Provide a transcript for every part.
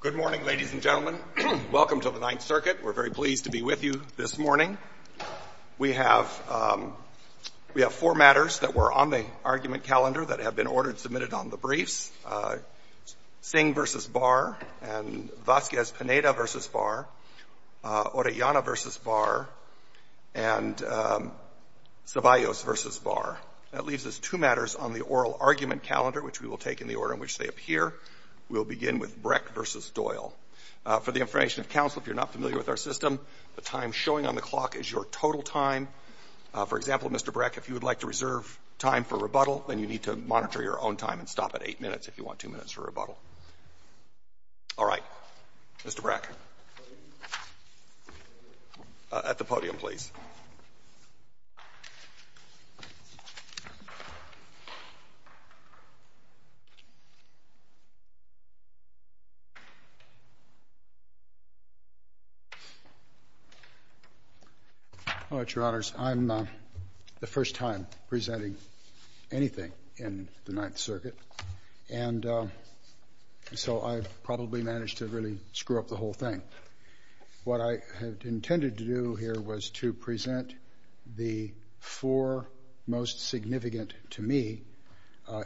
Good morning, ladies and gentlemen. Welcome to the Ninth Circuit. We're very pleased to be with you this morning. We have four matters that were on the argument calendar that have been ordered submitted on the briefs, Singh versus Barr, and Vazquez-Pineda versus Barr, Orellana versus Barr, and Ceballos versus Barr. That leaves us two matters on the oral argument calendar, which we will take in the order in which they appear. We'll begin with Breck versus Doyle. For the information of counsel, if you're not familiar with our system, the time showing on the clock is your total time. For example, Mr. Breck, if you would like to reserve time for rebuttal, then you need to monitor your own time and stop at eight minutes if you want two minutes for rebuttal. All right, Mr. Breck, at the podium, please. All right, Your Honors, I'm the first time presenting anything in the Ninth Circuit, and so I probably managed to really screw up the whole thing. What I had intended to do here was to present the four most significant, to me,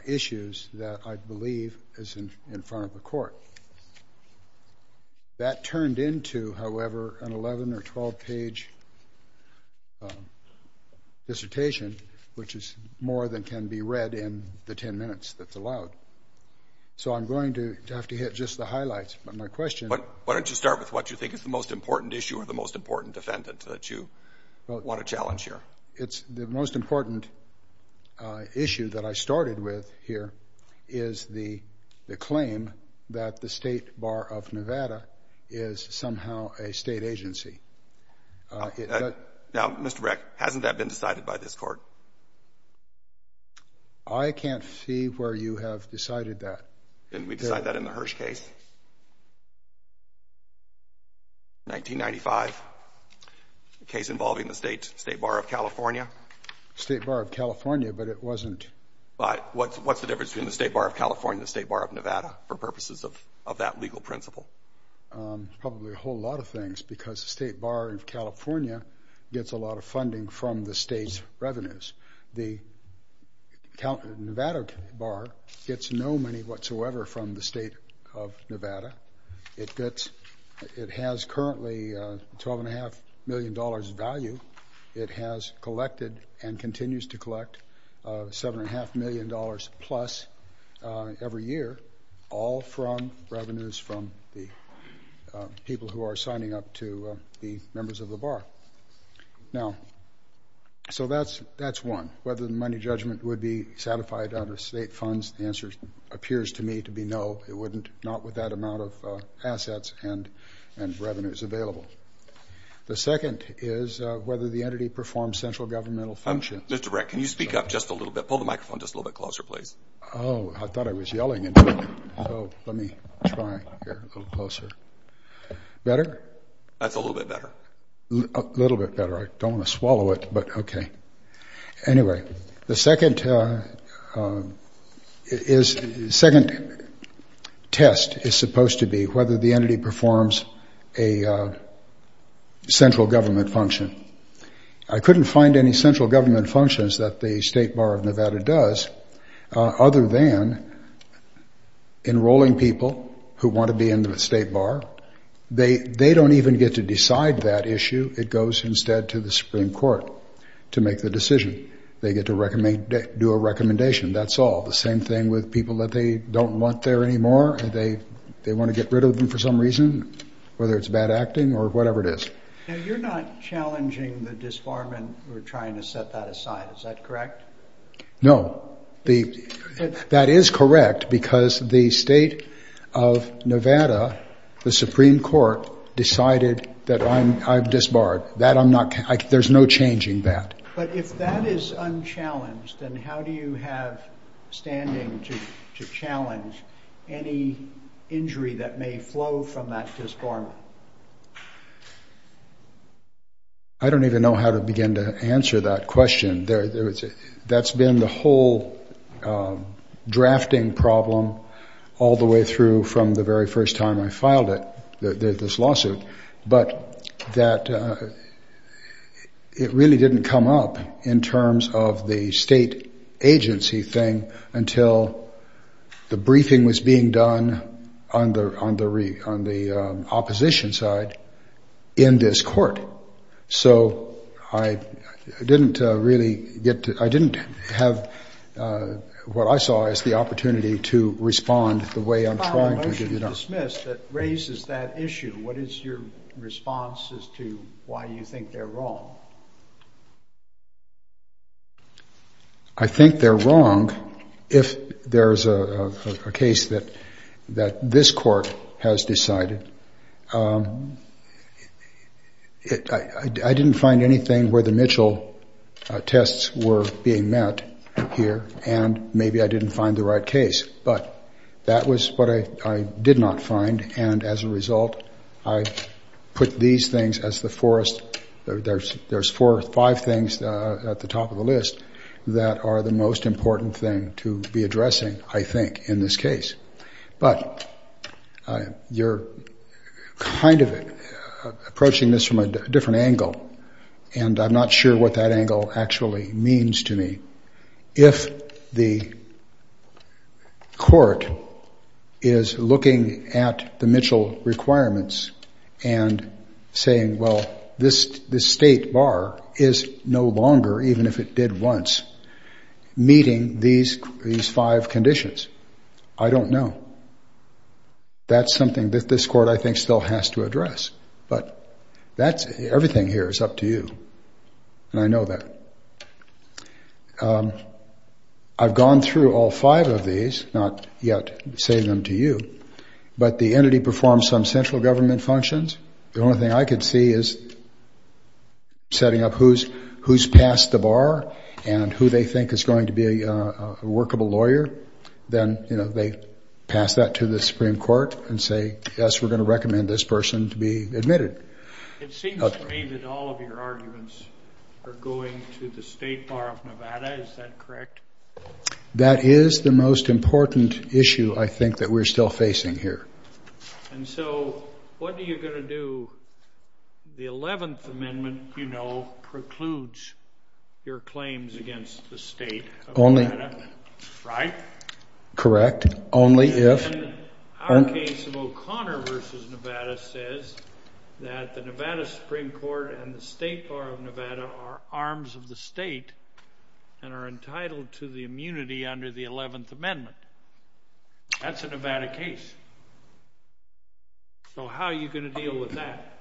issues that I believe is in front of the Court. That turned into, however, an 11- or 12-page dissertation, which is more than can be read in the 10 minutes that's allowed. So I'm going to have to hit just the highlights, but my question is. Why don't you start with what you think is the most important issue or the most important defendant that you want to challenge here? It's the most important issue that I started with here is the claim that the State Bar of Nevada is somehow a state agency. Now, Mr. Breck, hasn't that been decided by this Court? I can't see where you have decided that. Didn't we decide that in the Hirsch case? In 1995, a case involving the State Bar of California. State Bar of California, but it wasn't? But what's the difference between the State Bar of California and the State Bar of Nevada for purposes of that legal principle? Probably a whole lot of things, because the State Bar of California gets a lot of funding from the state's revenues. The Nevada Bar gets no money whatsoever from the State of Nevada. It gets, it has currently $12.5 million in value. It has collected and continues to collect $7.5 million plus every year, all from revenues from the people who are signing up to the members of the bar. Now, so that's one. Whether the money judgment would be satisfied under state funds, the answer appears to me to be no, it wouldn't. Not with that amount of assets and revenues available. The second is whether the entity performs central governmental functions. Mr. Breck, can you speak up just a little bit? Pull the microphone just a little bit closer, please. Oh, I thought I was yelling into it. So let me try here a little closer. Better? That's a little bit better. Little bit better. I don't want to swallow it, but OK. Anyway, the second test is supposed to be whether the entity performs a central government function. I couldn't find any central government functions that the State Bar of Nevada does, other than enrolling people who want to be in the State Bar. They don't even get to decide that issue. It goes instead to the Supreme Court to make the decision. They get to do a recommendation. That's all. The same thing with people that they don't want there anymore. They want to get rid of them for some reason, whether it's bad acting or whatever it is. Now, you're not challenging the disbarment or trying to set that aside, is that correct? No. That is correct, because the State of Nevada, the Supreme Court, decided that I'm disbarred. There's no changing that. But if that is unchallenged, then how do you have standing to challenge any injury that may flow from that disbarment? I don't even know how to begin to answer that question. That's been the whole drafting problem all the way through from the very first time I filed this lawsuit. But it really didn't come up in terms of the state agency thing until the briefing was being done on the opposition side in this court. So I didn't really get to, I didn't have what I saw as the opportunity to respond the way I'm trying to do now. You filed a motion to dismiss that raises that issue. What is your response as to why you think they're wrong? I think they're wrong if there is a case that this court has decided. I didn't find anything where the Mitchell tests were being met here, and maybe I didn't find the right case. But that was what I did not find. And as a result, I put these things as the four or five things at the top of the list that are the most important thing to be addressing, I think, in this case. But you're kind of approaching this from a different angle. And I'm not sure what that angle actually means to me. If the court is looking at the Mitchell requirements and saying, well, this state bar is no longer, even if it did once, meeting these five conditions, I don't know. That's something that this court, I think, still has to address. But everything here is up to you, and I know that. And I've gone through all five of these, not yet saying them to you. But the entity performs some central government functions. The only thing I could see is setting up who's passed the bar and who they think is going to be a workable lawyer. Then they pass that to the Supreme Court and say, yes, we're going to recommend this person to be admitted. It seems to me that all of your arguments are going to the state bar of Nevada. Is that correct? That is the most important issue, I think, that we're still facing here. And so what are you going to do? The 11th Amendment, you know, precludes your claims against the state of Nevada, right? Correct. Only if. Our case of O'Connor versus Nevada says that the Nevada Supreme Court and the state bar of Nevada are arms of the state and are entitled to the immunity under the 11th Amendment. That's a Nevada case. So how are you going to deal with that?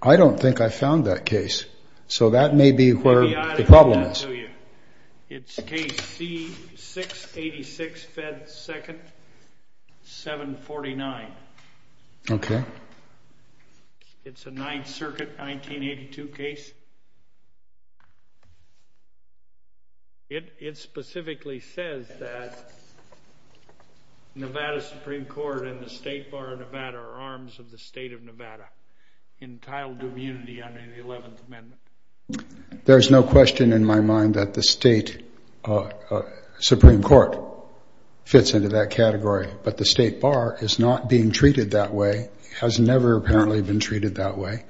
I don't think I found that case. So that may be where the problem is. It's case C-686, Fed 2nd, 749. OK. It's a Ninth Circuit, 1982 case. It specifically says that Nevada Supreme Court and the state bar of Nevada are arms of the state of Nevada, entitled to immunity under the 11th Amendment. There's no question in my mind that the state Supreme Court fits into that category. But the state bar is not being treated that way. Has never apparently been treated that way.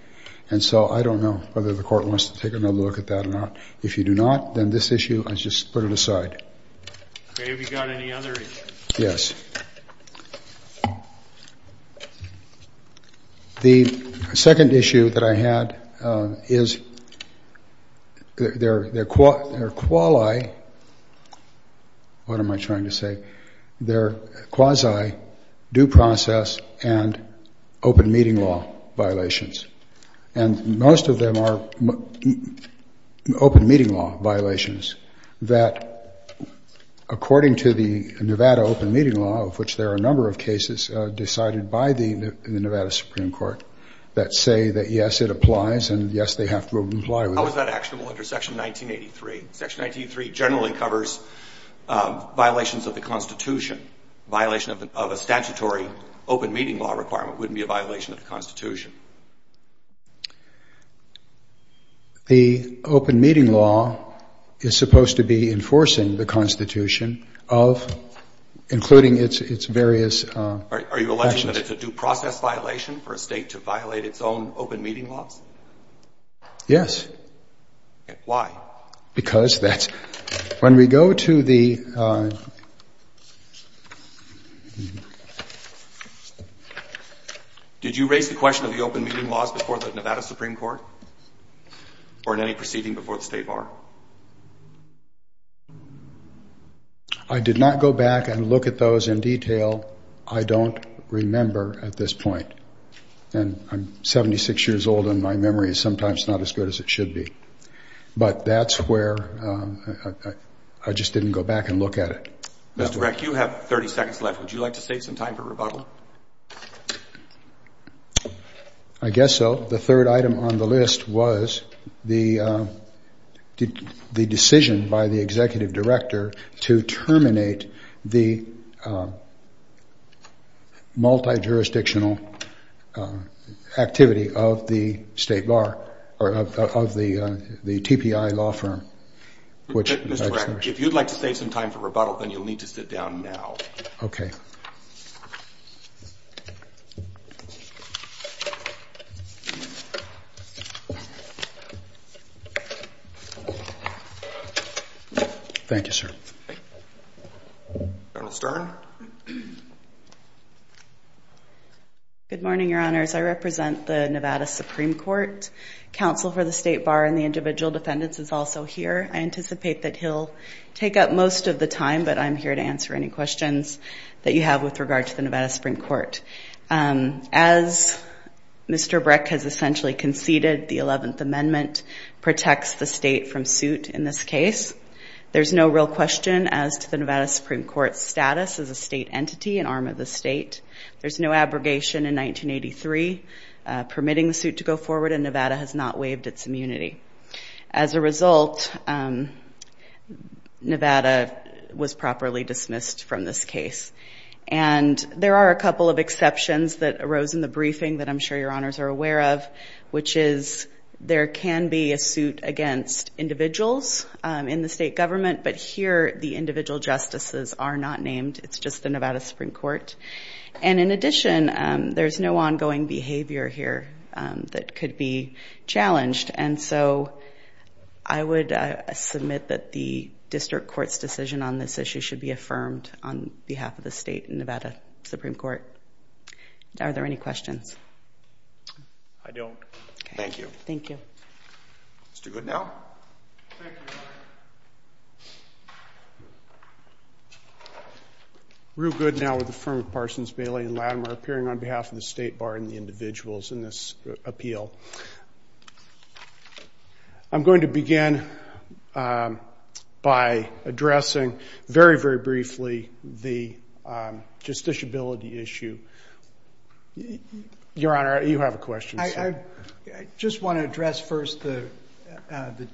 And so I don't know whether the court wants to take another look at that or not. If you do not, then this issue, I just put it aside. OK. Have you got any other issues? Yes. The second issue that I had is their quasi due process and open meeting law violations. And most of them are open meeting law violations that, according to the Nevada open meeting law, of which there are a number of cases decided by the Nevada Supreme Court, that say that yes, it applies, and yes, they have to comply with it. How is that actionable under Section 1983? Section 1983 generally covers violations of the Constitution, violation of a statutory open meeting law requirement wouldn't be a violation of the Constitution. The open meeting law is supposed to be enforcing the Constitution, including its various actions. Are you alleging that it's a due process violation for a state to violate its own open meeting laws? Yes. Why? Because that's, when we go to the, did you raise the question of the open meeting laws before the Nevada Supreme Court or in any proceeding before the state bar? I did not go back and look at those in detail. I don't remember at this point. And I'm 76 years old, and my memory is sometimes not as good as it should be. But that's where I just didn't go back and look at it. Mr. Reck, you have 30 seconds left. Would you like to save some time for rebuttal? I guess so. The third item on the list was the decision by the executive director to terminate the multi-jurisdictional activity of the state bar, or of the TPI law firm, which I just heard. Mr. Reck, if you'd like to save some time for rebuttal, then you'll need to sit down now. OK. Thank you, sir. Colonel Stern. Good morning, Your Honors. I represent the Nevada Supreme Court. Counsel for the state bar and the individual defendants is also here. I anticipate that he'll take up most of the time, but I'm here to answer any questions that you have with regard to the Nevada Supreme Court. As Mr. Breck has essentially conceded, the 11th Amendment protects the state from suit in this case. There's no real question as to the Nevada Supreme Court's status as a state entity, an arm of the state. There's no abrogation in 1983 permitting the suit to go forward, and Nevada has not waived its immunity. As a result, Nevada was properly dismissed from this case. And there are a couple of exceptions that arose in the briefing that I'm sure Your Honors are aware of, which is there can be a suit against individuals in the state government, but here the individual justices are not named. It's just the Nevada Supreme Court. And in addition, there's no ongoing behavior here that could be challenged. And so I would submit that the district court's decision on this issue should be affirmed on behalf of the state and Nevada Supreme Court. Are there any questions? I don't. Thank you. Thank you. Let's do good now. We're good now with the firm of Parsons, Bailey, and Latimer appearing on behalf of the state bar and the individuals in this appeal. I'm going to begin by addressing very, very briefly the justiciability issue. Your Honor, you have a question. I just want to address first the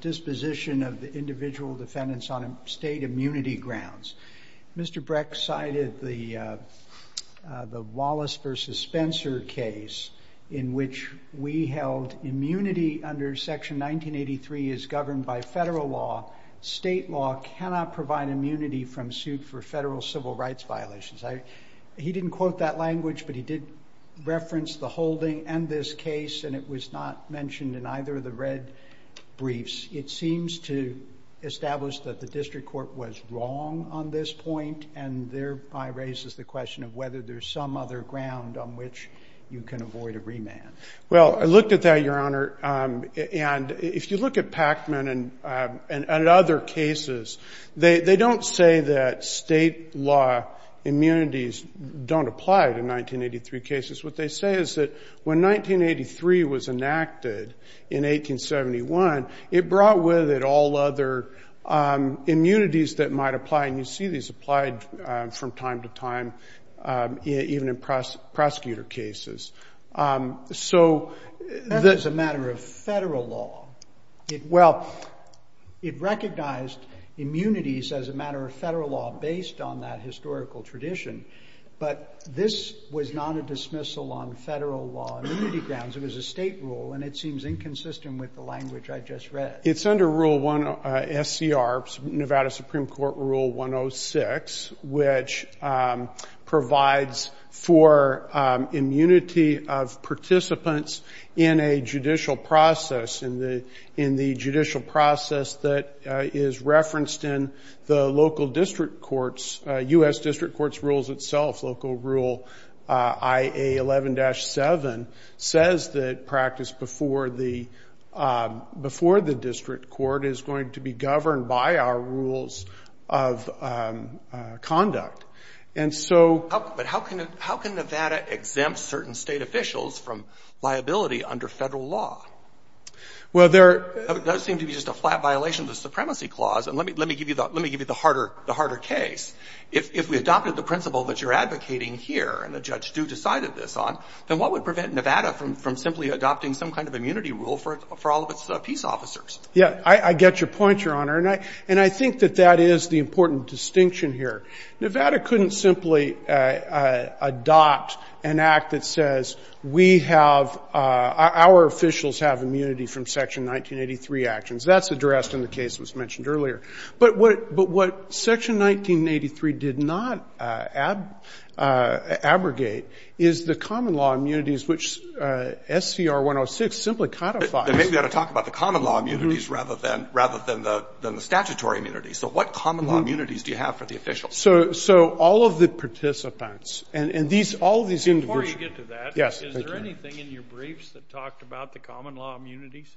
disposition of the individual defendants on state immunity grounds. Mr. Brecht cited the Wallace versus Spencer case in which we held immunity under Section 1983 is governed by federal law. State law cannot provide immunity from suit for federal civil rights violations. He didn't quote that language, but he did reference the holding and this case, and it was not mentioned in either of the red briefs. It seems to establish that the district court was wrong on this point, and thereby raises the question of whether there's some other ground on which you can avoid a remand. Well, I looked at that, Your Honor, and if you look at Pacman and other cases, they don't say that state law immunities don't apply to 1983 cases. What they say is that when 1983 was enacted in 1871, it brought with it all other immunities that might apply, and you see these applied from time to time, even in prosecutor cases. So that's a matter of federal law. Well, it recognized immunities as a matter of federal law based on that historical tradition, but this was not a dismissal on federal law immunity grounds. It was a state rule, and it seems inconsistent with the language I just read. It's under SCR, Nevada Supreme Court Rule 106, which provides for immunity of participants in a judicial process, in the judicial process that is referenced in the local district courts, US district courts rules itself, local rule IA11-7, says that practice before the district court is going to be governed by our rules of conduct. And so how can Nevada exempt certain state officials from liability under federal law? Well, there does seem to be just a flat violation of the Supremacy Clause, and let me give you the harder case. If we adopted the principle that you're advocating here, and the judge do decided this on, then what would prevent Nevada from simply adopting some kind of immunity rule for all of its peace officers? Yeah, I get your point, Your Honor, and I think that that is the important distinction here. Nevada couldn't simply adopt an act that says, we have, our officials have immunity from Section 1983 actions. That's addressed in the case that was mentioned earlier. But what Section 1983 did not abrogate is the common law immunities, which SCR-106 simply codifies. Then maybe you ought to talk about the common law immunities rather than the statutory immunity. So what common law immunities do you have for the officials? So all of the participants, and all of these individuals. Before you get to that, is there anything in your briefs that talked about the common law immunities?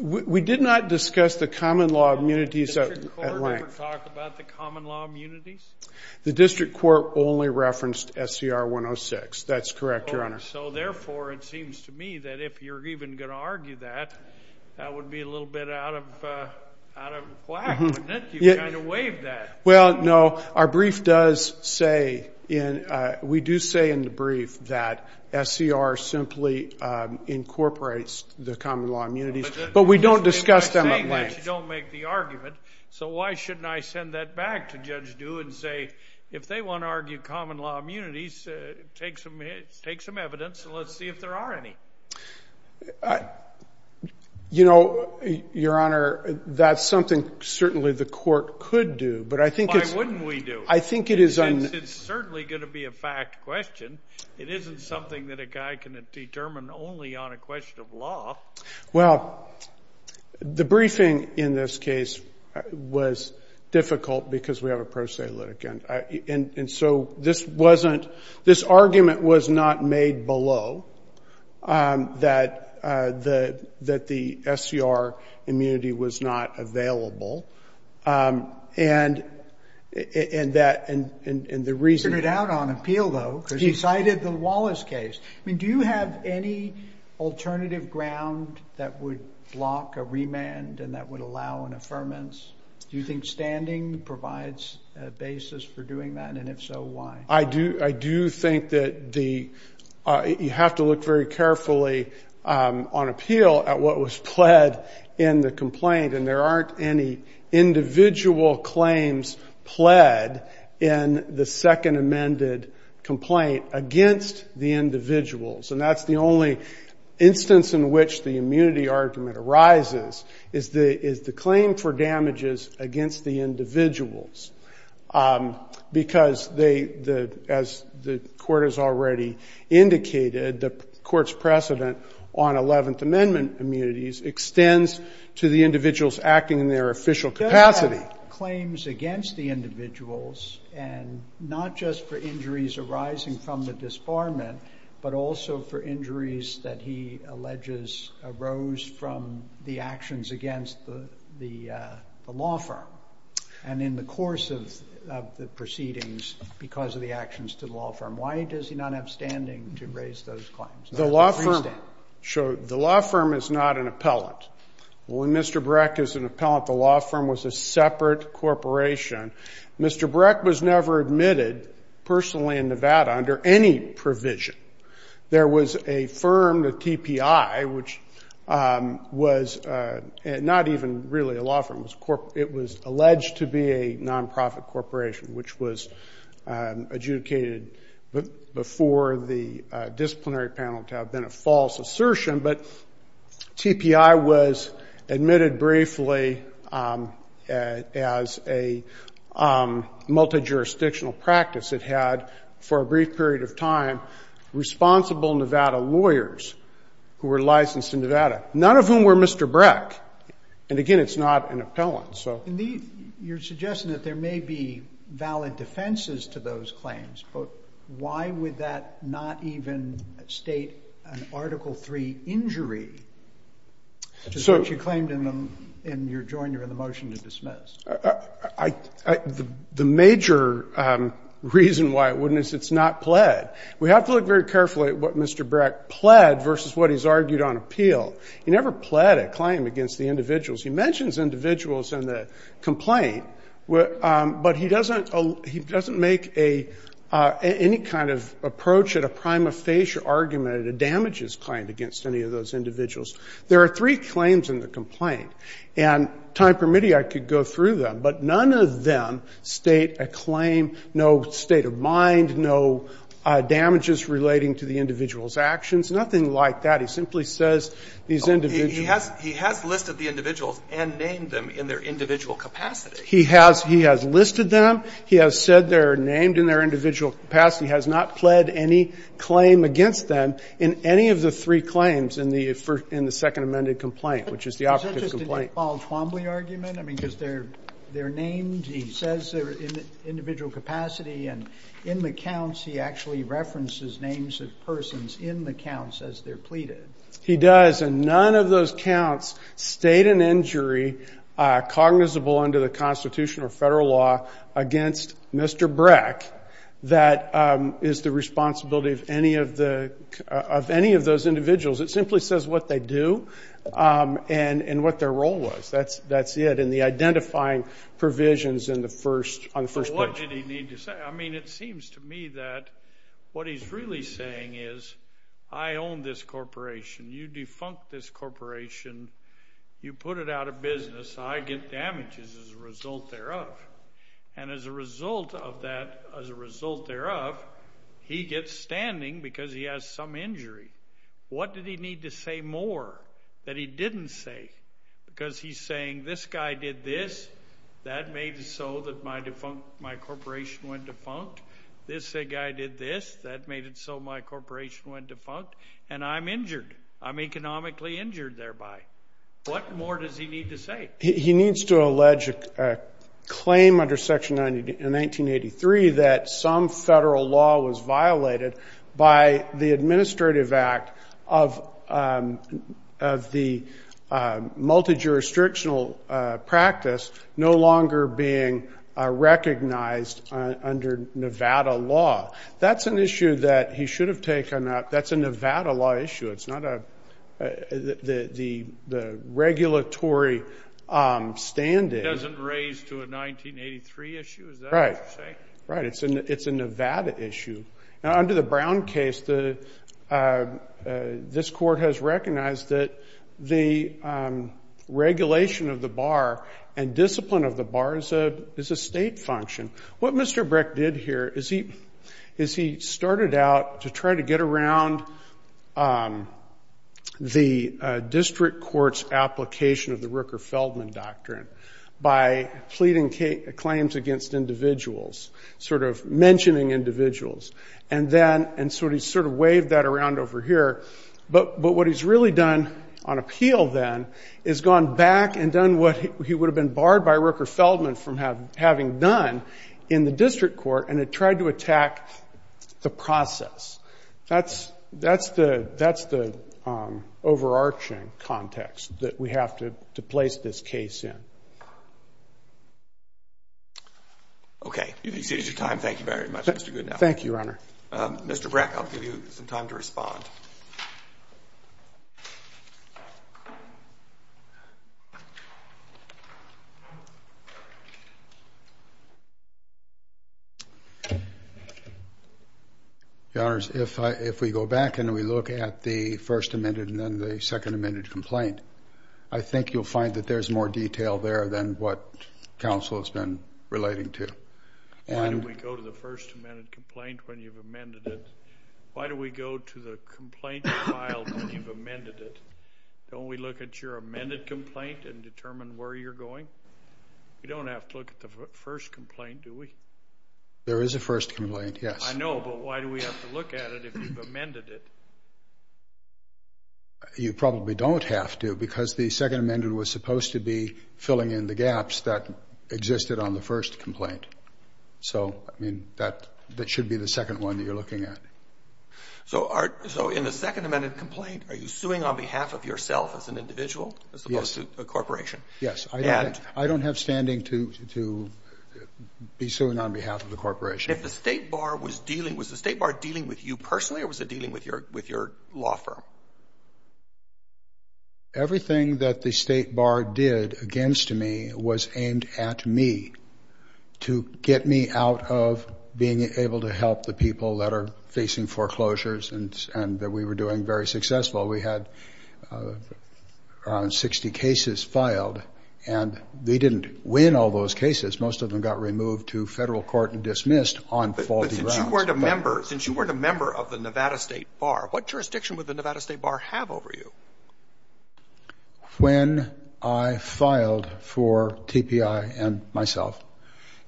We did not discuss the common law immunities at length. Did the district court ever talk about the common law immunities? The district court only referenced SCR-106. That's correct, Your Honor. So therefore, it seems to me that if you're even going to argue that, that would be a little bit out of whack, wouldn't it? You kind of waived that. Well, no. Our brief does say, we do say in the brief that SCR simply incorporates the common law immunities. But we don't discuss them at length. You don't make the argument. So why shouldn't I send that back to Judge Dew and say, if they want to argue common law immunities, take some evidence, and let's see if there are any. You know, Your Honor, that's something, certainly, the court could do. But I think it's- Why wouldn't we do? I think it is- It's certainly going to be a fact question. It isn't something that a guy can determine only on a question of law. Well, the briefing in this case was difficult, because we have a pro se litigant. And so this wasn't- this argument was not made below that the SCR immunity was not available. And the reason- You put it out on appeal, though, because you cited the Wallace case. Do you have any alternative ground that would block a remand and that would allow an affirmance? Do you think standing provides a basis for doing that? And if so, why? I do. I do think that you have to look very carefully on appeal at what was pled in the complaint. And there aren't any individual claims pled in the second amended complaint against the individuals. And that's the only instance in which the immunity argument arises, is the claim for damages against the individuals. Because as the court has already indicated, the court's precedent on 11th Amendment immunities extends to the individuals acting in their official capacity. They're going to have claims against the individuals, and not just for injuries arising from the disbarment, but also for injuries that he alleges arose from the actions against the law firm and in the course of the proceedings, because of the actions to the law firm. Why does he not have standing to raise those claims? The law firm is not an appellant. When Mr. Breck is an appellant, the law firm was a separate corporation. Mr. Breck was never admitted personally in Nevada under any provision. There was a firm, the TPI, which was not even really a law firm. It was alleged to be a nonprofit corporation, which was adjudicated before the disciplinary panel to have been a false assertion. But TPI was admitted briefly as a multi-jurisdictional practice. It had, for a brief period of time, responsible Nevada lawyers who were licensed in Nevada, none of whom were Mr. Breck. And again, it's not an appellant. You're suggesting that there may be valid defenses to those claims, but why would that not even state an Article III injury, which you claimed in your joiner in the motion to dismiss? The major reason why it wouldn't is it's not pled. We have to look very carefully at what Mr. Breck pled versus what he's argued on appeal. He never pled a claim against the individuals. He mentions individuals in the complaint, but he doesn't make any kind of approach at a prima facie argument at a damages claim against any of those individuals. There are three claims in the complaint, and time permitting, I could go through them. But none of them state a claim, no state of mind, no damages relating to the individual's actions, nothing like that. He simply says these individuals. He has listed the individuals and named them in their individual capacity. He has listed them. He has said they're named in their individual capacity, has not pled any claim against them in any of the three claims in the second amended complaint, which is the operative complaint. Is that just an Iqbal Twombly argument? I mean, because they're named. He says they're in the individual capacity. And in the counts, he actually references names of persons in the counts as they're pleaded. He does. And none of those counts state an injury cognizable under the Constitution or federal law against Mr. Breck that is the responsibility of any of those individuals. It simply says what they do and what their role was. That's it. And the identifying provisions on the first page. But what did he need to say? I mean, it seems to me that what he's really saying is, I own this corporation. You defunct this corporation. You put it out of business. I get damages as a result thereof. And as a result of that, as a result thereof, he gets standing because he has some injury. What did he need to say more that he didn't say? Because he's saying, this guy did this. That made it so that my corporation went defunct. This guy did this. That made it so my corporation went defunct. And I'm injured. I'm economically injured thereby. What more does he need to say? He needs to allege a claim under Section 1983 that some federal law was violated by the Administrative Act of the multi-jurisdictional practice no longer being recognized under Nevada law. That's an issue that he should have taken up. That's a Nevada law issue. It's not the regulatory standing. It doesn't raise to a 1983 issue? Is that what you're saying? Right. It's a Nevada issue. And under the Brown case, this court has recognized that the regulation of the bar and discipline of the bar is a state function. What Mr. Brick did here is he started out to try to get around the district court's application of the Rooker-Feldman doctrine by pleading claims against individuals, sort of mentioning individuals. And so he sort of waved that around over here. But what he's really done on appeal, then, is gone back and done what he would have been barred by Rooker-Feldman from having done in the district court. And it tried to attack the process. That's the overarching context that we have to place this case in. OK. You've exceeded your time. Thank you very much, Mr. Goodenow. Thank you, Your Honor. Mr. Brick, I'll give you some time to respond. Your Honor, if we go back and we look at the first amended and then the second amended complaint, I think you'll find that there's more detail there than what counsel has been relating to. Why do we go to the first amended complaint when you've amended it? Why do we go to the complaint filed when you've amended it? Don't we look at your amended complaint and determine where you're going? We don't have to look at the first complaint, do we? There is a first complaint, yes. I know, but why do we have to look at it if you've amended it? You probably don't have to, because the second amended was supposed to be filling in the gaps that existed on the first complaint. So I mean, that should be the second one that you're looking at. So in the second amended complaint, are you suing on behalf of yourself as an individual as opposed to a corporation? Yes. I don't have standing to be suing on behalf of the corporation. If the state bar was dealing, was the state bar dealing with you personally or was it dealing with your law firm? Everything that the state bar did against me was aimed at me to get me out of being able to help the people that are facing foreclosures and that we were doing very successful. We had around 60 cases filed, and they didn't win all those cases. Most of them got removed to federal court and dismissed on faulty grounds. Since you weren't a member of the Nevada State Bar, what jurisdiction would the Nevada State Bar have over you? When I filed for TPI and myself,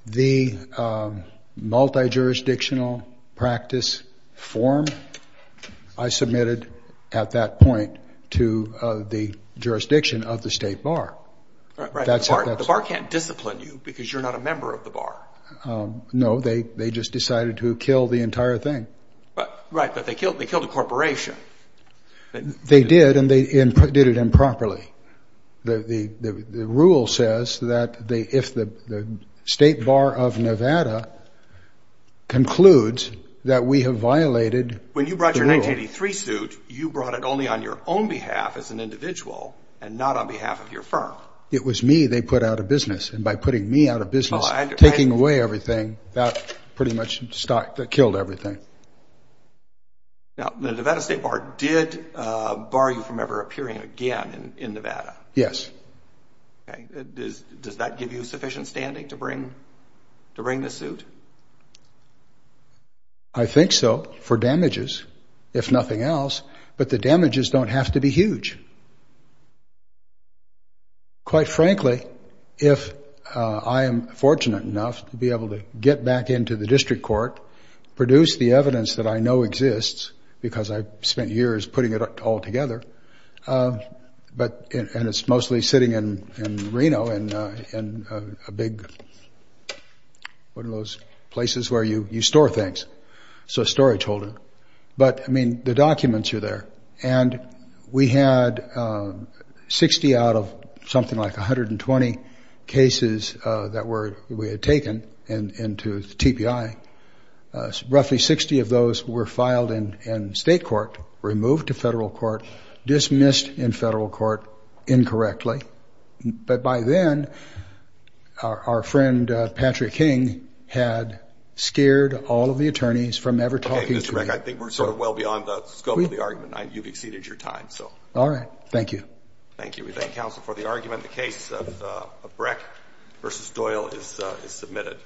the multi-jurisdictional practice form, I submitted at that point to the jurisdiction of the state bar. The bar can't discipline you because you're not a member of the bar. No, they just decided to kill the entire thing. Right, but they killed a corporation. They did, and they did it improperly. The rule says that if the state bar of Nevada concludes that we have violated the rule. When you brought your 1983 suit, you brought it only on your own behalf as an individual and not on behalf of your firm. It was me they put out of business, and by putting me out of business, taking away everything, that pretty much killed everything. Now, the Nevada State Bar did bar you from ever appearing again in Nevada. Yes. Does that give you sufficient standing to bring the suit? I think so, for damages, if nothing else. But the damages don't have to be huge. Quite frankly, if I am fortunate enough to be able to get back into the district court, produce the evidence that I know exists, because I've spent years putting it all together, and it's mostly sitting in Reno in a big, one of those places where you store things, so a storage holder. But I mean, the documents are there. And we had 60 out of something like 120 cases that we had taken into the TBI. Roughly 60 of those were filed in state court, removed to federal court, dismissed in federal court incorrectly. But by then, our friend Patrick King had scared all of the attorneys from ever talking to me. OK, Mr. Breck, I think we're sort of well beyond the scope of the argument. You've exceeded your time, so. All right. Thank you. Thank you. We thank counsel for the argument. The case of Breck versus Doyle is submitted.